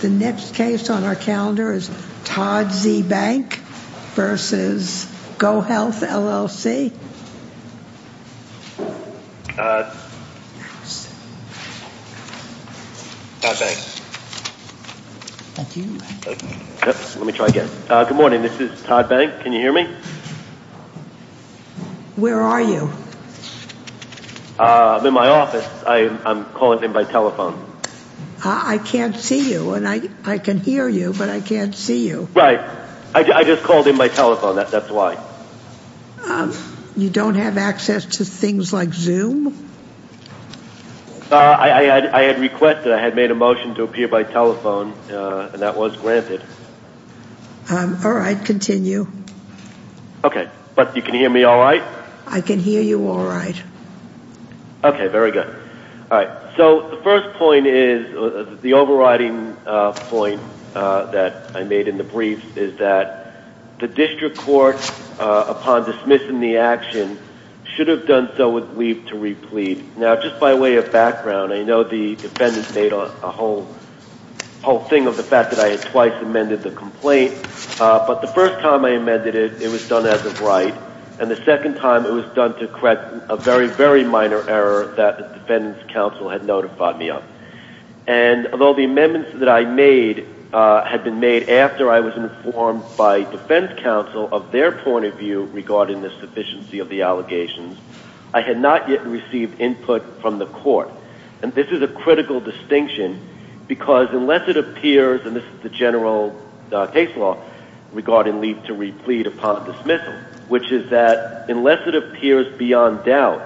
The next case on our calendar is Todd Z. Bank v. GoHealth, LLC Good morning, this is Todd Bank. Can you hear me? Where are you? I'm in my office. I'm calling in by telephone. I can't see you. I can hear you, but I can't see you. Right. I just called in by telephone. That's why. You don't have access to things like Zoom? I had requested. I had made a motion to appear by telephone, and that was granted. All right. Continue. Okay. But you can hear me all right? I can hear you all right. Okay. Very good. All right. So, the first point is, the overriding point that I made in the brief, is that the district court, upon dismissing the action, should have done so with leave to replead. Now, just by way of background, I know the defendant made a whole thing of the fact that I had twice amended the complaint. But the first time I amended it, it was done as a right. And the second time, it was done to correct a very, very minor error that the defendant's counsel had notified me of. And although the amendments that I made had been made after I was informed by defense counsel of their point of view regarding the sufficiency of the allegations, I had not yet received input from the court. And this is a critical distinction, because unless it appears, and this is the general case law, regarding leave to replead upon dismissal, which is that unless it appears beyond doubt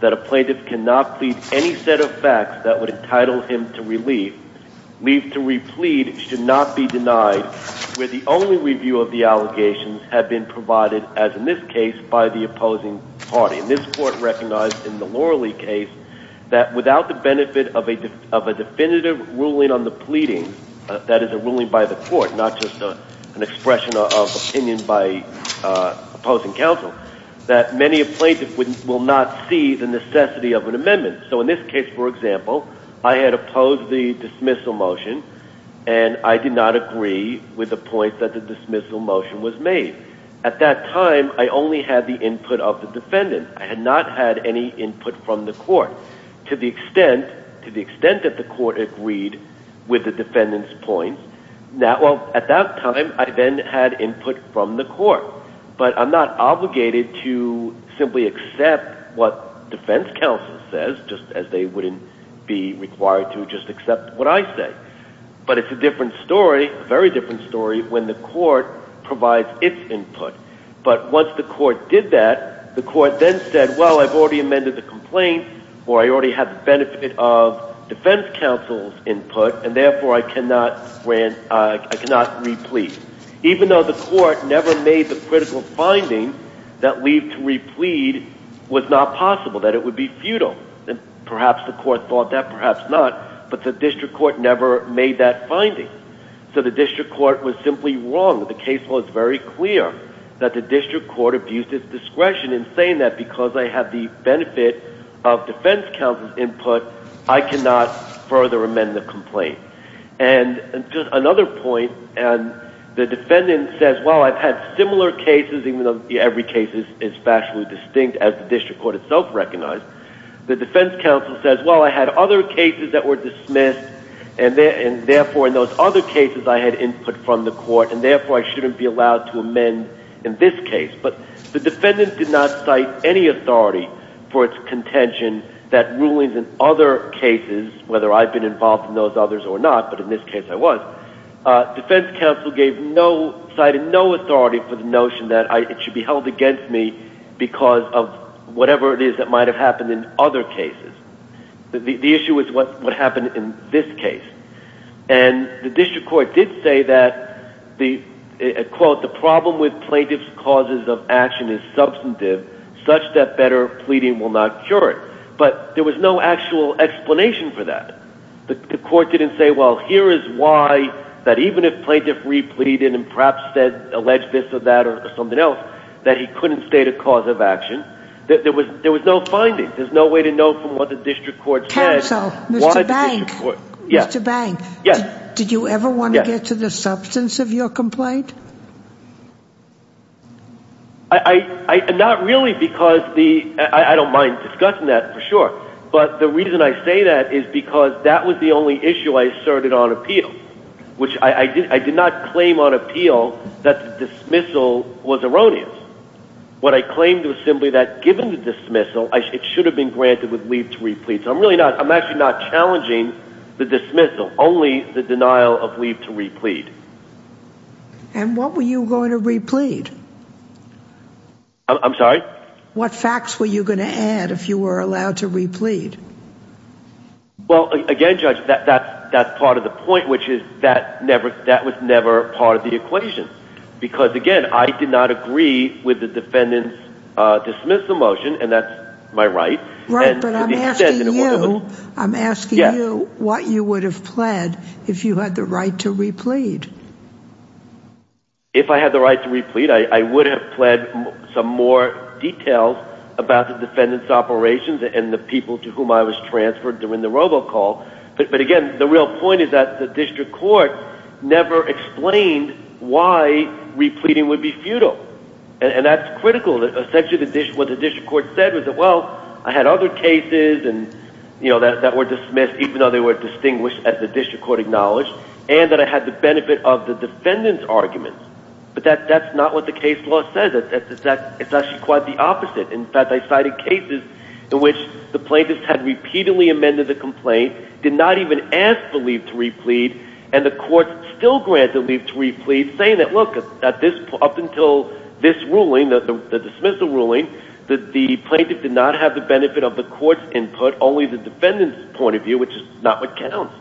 that a plaintiff cannot plead any set of facts that would entitle him to relief, leave to replead should not be denied, where the only review of the allegations have been provided, as in this case, by the opposing party. And this court recognized, in the Loralee case, that without the benefit of a definitive ruling on the pleading, that is a ruling by the court, not just an expression of opinion by opposing counsel, that many a plaintiff will not see the necessity of an amendment. So in this case, for example, I had opposed the dismissal motion, and I did not agree with the point that the dismissal motion was made. At that time, I only had the input of the defendant. I had not had any input from the court. To the extent that the court agreed with the defendant's point, at that time I then had input from the court. But I'm not obligated to simply accept what defense counsel says, just as they wouldn't be required to just accept what I say. But it's a different story, a very different story, when the court provides its input. But once the court did that, the court then said, well, I've already amended the complaint, or I already have the benefit of defense counsel's input, and therefore I cannot re-plead. Even though the court never made the critical finding that leave to re-plead was not possible, that it would be futile, and perhaps the court thought that, perhaps not, but the district court never made that finding. So the district court was simply wrong. The case was very clear that the district court abused its discretion in saying that because I have the benefit of defense counsel's input, I cannot further amend the complaint. And just another point, the defendant says, well, I've had similar cases, even though every case is factually distinct, as the district court itself recognized. The defense counsel says, well, I had other cases that were dismissed, and therefore in those other cases I had input from the court, and therefore I shouldn't be allowed to amend in this case. But the defendant did not cite any authority for its contention that rulings in other cases, whether I've been involved in those others or not, but in this case I was, defense counsel cited no authority for the notion that it should be held against me because of whatever it is that might have happened in other cases. The issue is what happened in this case. And the district court did say that, quote, the problem with plaintiff's causes of action is substantive, such that better pleading will not cure it. But there was no actual explanation for that. The court didn't say, well, here is why that even if plaintiff repleaded and perhaps alleged this or that or something else, that he couldn't state a cause of action. There was no finding. There's no way to know from what the district court said. Mr. Bank, did you ever want to get to the substance of your complaint? Not really because the ‑‑ I don't mind discussing that for sure. But the reason I say that is because that was the only issue I asserted on appeal, which I did not claim on appeal that the dismissal was erroneous. What I claimed was simply that given the dismissal, it should have been granted with leave to replead. So I'm really not ‑‑ I'm actually not challenging the dismissal, only the denial of leave to replead. And what were you going to replead? I'm sorry? What facts were you going to add if you were allowed to replead? Well, again, Judge, that's part of the point, which is that was never part of the equation. Because, again, I did not agree with the defendant's dismissal motion, and that's my right. Right, but I'm asking you what you would have pled if you had the right to replead. If I had the right to replead, I would have pled some more details about the defendant's operations and the people to whom I was transferred during the robocall. But, again, the real point is that the district court never explained why repleading would be futile. And that's critical. Essentially what the district court said was that, well, I had other cases that were dismissed, even though they were distinguished as the district court acknowledged, and that I had the benefit of the defendant's argument. But that's not what the case law says. It's actually quite the opposite. In fact, I cited cases in which the plaintiffs had repeatedly amended the complaint, did not even ask for leave to replead, and the courts still grant the leave to replead, saying that, look, up until this ruling, the dismissal ruling, that the plaintiff did not have the benefit of the court's input, only the defendant's point of view, which is not what counts.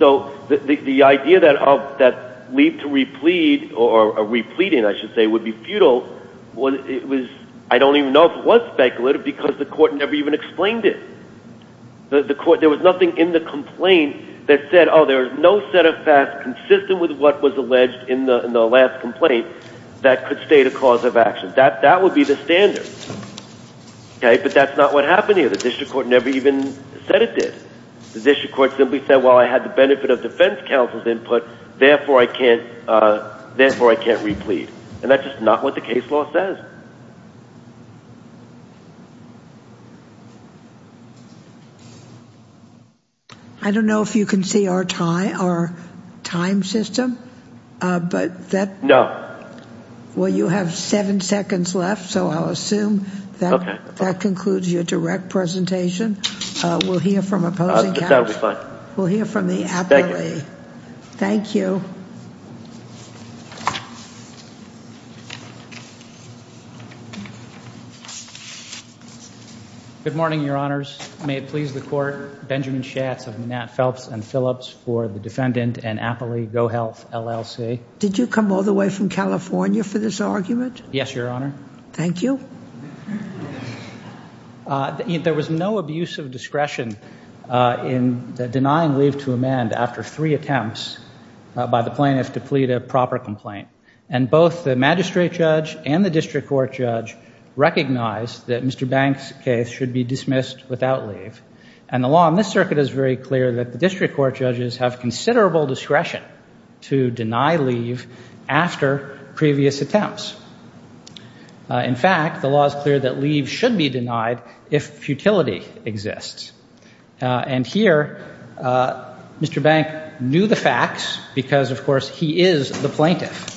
So the idea that leave to replead, or repleading, I should say, would be futile, I don't even know if it was speculative because the court never even explained it. There was nothing in the complaint that said, oh, there's no set of facts consistent with what was alleged in the last complaint that could state a cause of action. That would be the standard. But that's not what happened here. The district court never even said it did. The district court simply said, well, I had the benefit of defense counsel's input, therefore I can't replead. And that's just not what the case law says. Thank you. I don't know if you can see our time system. No. Well, you have seven seconds left, so I'll assume that concludes your direct presentation. We'll hear from opposing counsel. That would be fine. We'll hear from the appellee. Thank you. Thank you. Good morning, Your Honors. May it please the court, Benjamin Schatz of Nat Phelps and Phillips for the Defendant and Appellee Go Health, LLC. Did you come all the way from California for this argument? Yes, Your Honor. Thank you. There was no abuse of discretion in denying leave to amend after three attempts by the plaintiff to plead a proper complaint. And both the magistrate judge and the district court judge recognized that Mr. Banks' case should be dismissed without leave. And the law in this circuit is very clear that the district court judges have considerable discretion to deny leave after previous attempts. In fact, the law is clear that leave should be denied if futility exists. And here Mr. Bank knew the facts because, of course, he is the plaintiff.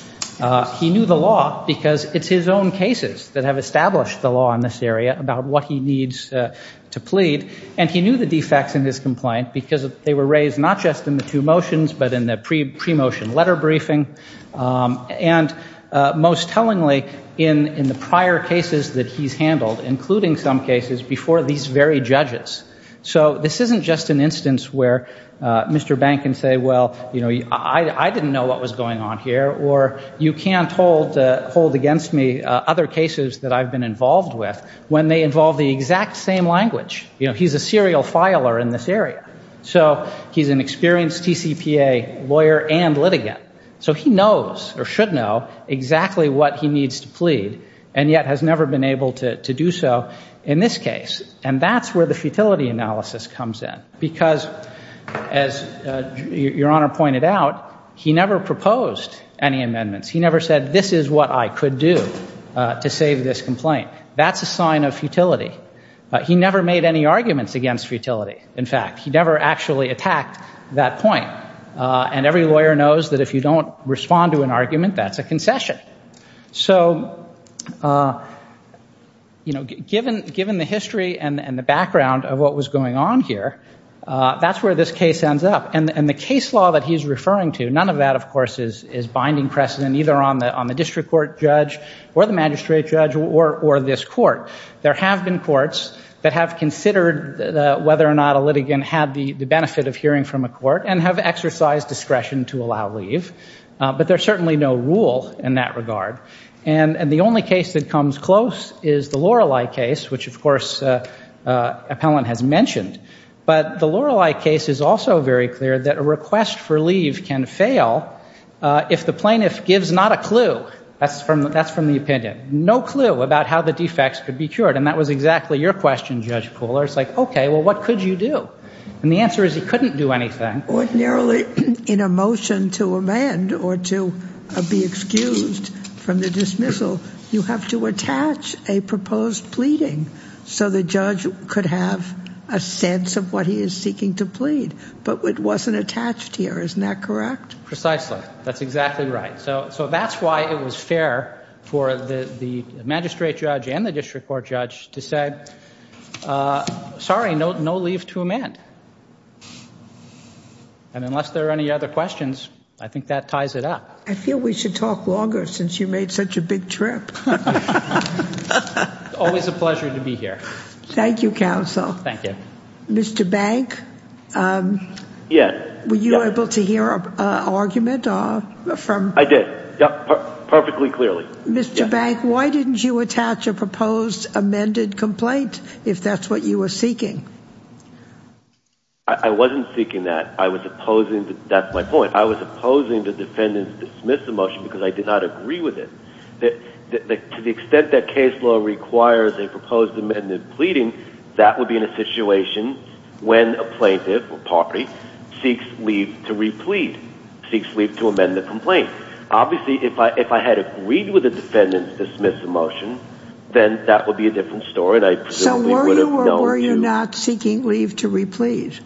He knew the law because it's his own cases that have established the law in this area about what he needs to plead. And he knew the defects in his complaint because they were raised not just in the two motions but in the pre-motion letter briefing. And most tellingly, in the prior cases that he's handled, including some cases before these very judges. So this isn't just an instance where Mr. Bank can say, well, I didn't know what was going on here, or you can't hold against me other cases that I've been involved with when they involve the exact same language. He's a serial filer in this area. So he's an experienced TCPA lawyer and litigant. So he knows or should know exactly what he needs to plead and yet has never been able to do so in this case. And that's where the futility analysis comes in because, as Your Honor pointed out, he never proposed any amendments. He never said, this is what I could do to save this complaint. That's a sign of futility. He never made any arguments against futility. In fact, he never actually attacked that point. And every lawyer knows that if you don't respond to an argument, that's a concession. So given the history and the background of what was going on here, that's where this case ends up. And the case law that he's referring to, none of that, of course, is binding precedent, either on the district court judge or the magistrate judge or this court. There have been courts that have considered whether or not a litigant had the benefit of hearing from a court and have exercised discretion to allow leave. But there's certainly no rule in that regard. And the only case that comes close is the Lorelei case, which, of course, Appellant has mentioned. But the Lorelei case is also very clear that a request for leave can fail if the plaintiff gives not a clue. That's from the opinion. No clue about how the defects could be cured. And that was exactly your question, Judge Koehler. It's like, okay, well, what could you do? And the answer is he couldn't do anything. Ordinarily, in a motion to amend or to be excused from the dismissal, you have to attach a proposed pleading so the judge could have a sense of what he is seeking to plead. But it wasn't attached here. Isn't that correct? Precisely. That's exactly right. So that's why it was fair for the magistrate judge and the district court judge to say, sorry, no leave to amend. And unless there are any other questions, I think that ties it up. I feel we should talk longer since you made such a big trip. Always a pleasure to be here. Thank you, counsel. Thank you. Mr. Bank, were you able to hear an argument? I did. Perfectly clearly. Mr. Bank, why didn't you attach a proposed amended complaint if that's what you were seeking? I wasn't seeking that. That's my point. I was opposing the defendant's dismissal motion because I did not agree with it. To the extent that case law requires a proposed amended pleading, that would be in a situation when a plaintiff or party seeks leave to replete, seeks leave to amend the complaint. Obviously, if I had agreed with the defendant's dismissal motion, then that would be a different story. So were you or were you not seeking leave to replete?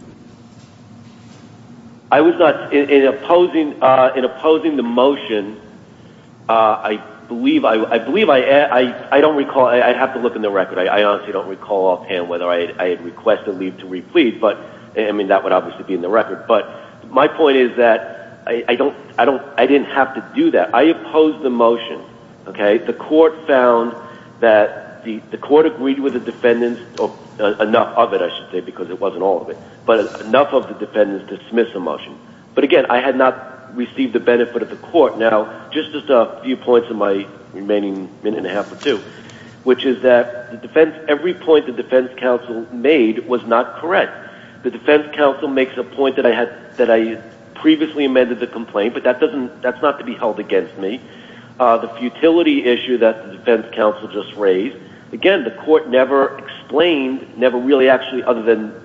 I was not. In opposing the motion, I believe I don't recall. I have to look in the record. I honestly don't recall offhand whether I had requested leave to replete. I mean, that would obviously be in the record. But my point is that I didn't have to do that. I opposed the motion. The court found that the court agreed with the defendant's enough of it, I should say, because it wasn't all of it. But enough of the defendant's dismissal motion. But again, I had not received the benefit of the court. Now, just a few points in my remaining minute and a half or two, which is that every point the defense counsel made was not correct. The defense counsel makes a point that I previously amended the complaint, but that's not to be held against me. The futility issue that the defense counsel just raised, again, the court never explained, never really actually other than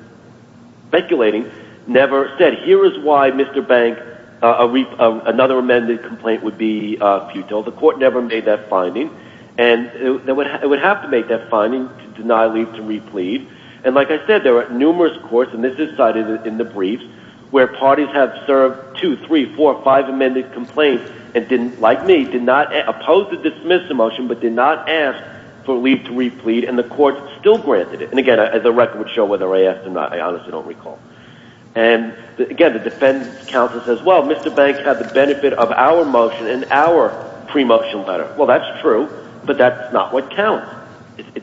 speculating, never said, here is why, Mr. Bank, another amended complaint would be futile. The court never made that finding. And it would have to make that finding to deny leave to replete. And like I said, there are numerous courts, and this is cited in the briefs, where parties have served two, three, four, five amended complaints and didn't, like me, did not oppose the dismissal motion, but did not ask for leave to replete, and the court still granted it. And again, the record would show whether I asked or not. I honestly don't recall. And again, the defense counsel says, well, Mr. Bank had the benefit of our motion and our pre-motion letter. Well, that's true, but that's not what counts.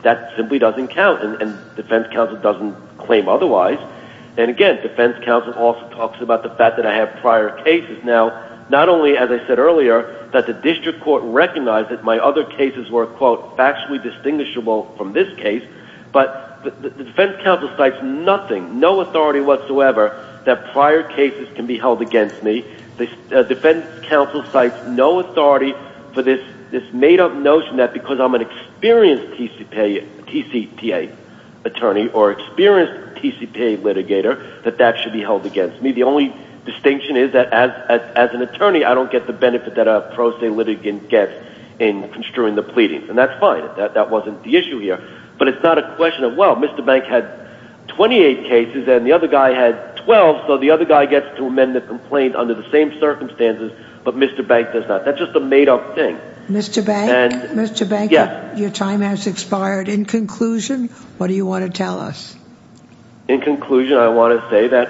That simply doesn't count, and defense counsel doesn't claim otherwise. And again, defense counsel also talks about the fact that I have prior cases. Now, not only, as I said earlier, that the district court recognized that my other cases were, quote, factually distinguishable from this case, but the defense counsel cites nothing, no authority whatsoever, that prior cases can be held against me. The defense counsel cites no authority for this made-up notion that because I'm an experienced TCPA attorney or experienced TCPA litigator, that that should be held against me. The only distinction is that as an attorney, I don't get the benefit that a pro se litigant gets in construing the pleadings. And that's fine. That wasn't the issue here. But it's not a question of, well, Mr. Bank had 28 cases and the other guy had 12, so the other guy gets to amend the complaint under the same circumstances, but Mr. Bank does not. That's just a made-up thing. Mr. Bank? Mr. Bank? Yes. Your time has expired. In conclusion, what do you want to tell us? In conclusion, I want to say that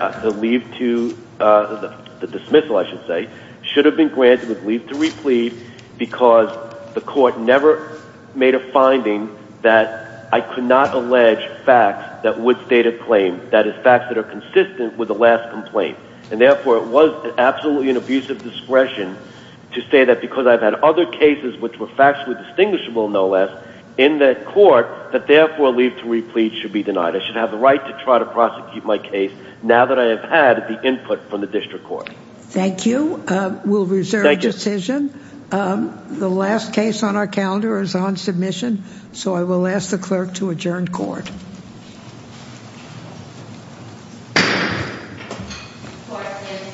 the dismissal should have been granted with leave to replead because the court never made a finding that I could not allege facts that would state a claim, that is, facts that are consistent with the last complaint. And, therefore, it was absolutely an abuse of discretion to say that because I've had other cases which were factually distinguishable, no less, in that court, that, therefore, leave to replead should be denied. I should have the right to try to prosecute my case now that I have had the input from the district court. Thank you. We'll reserve the decision. The last case on our calendar is on submission, so I will ask the clerk to adjourn court.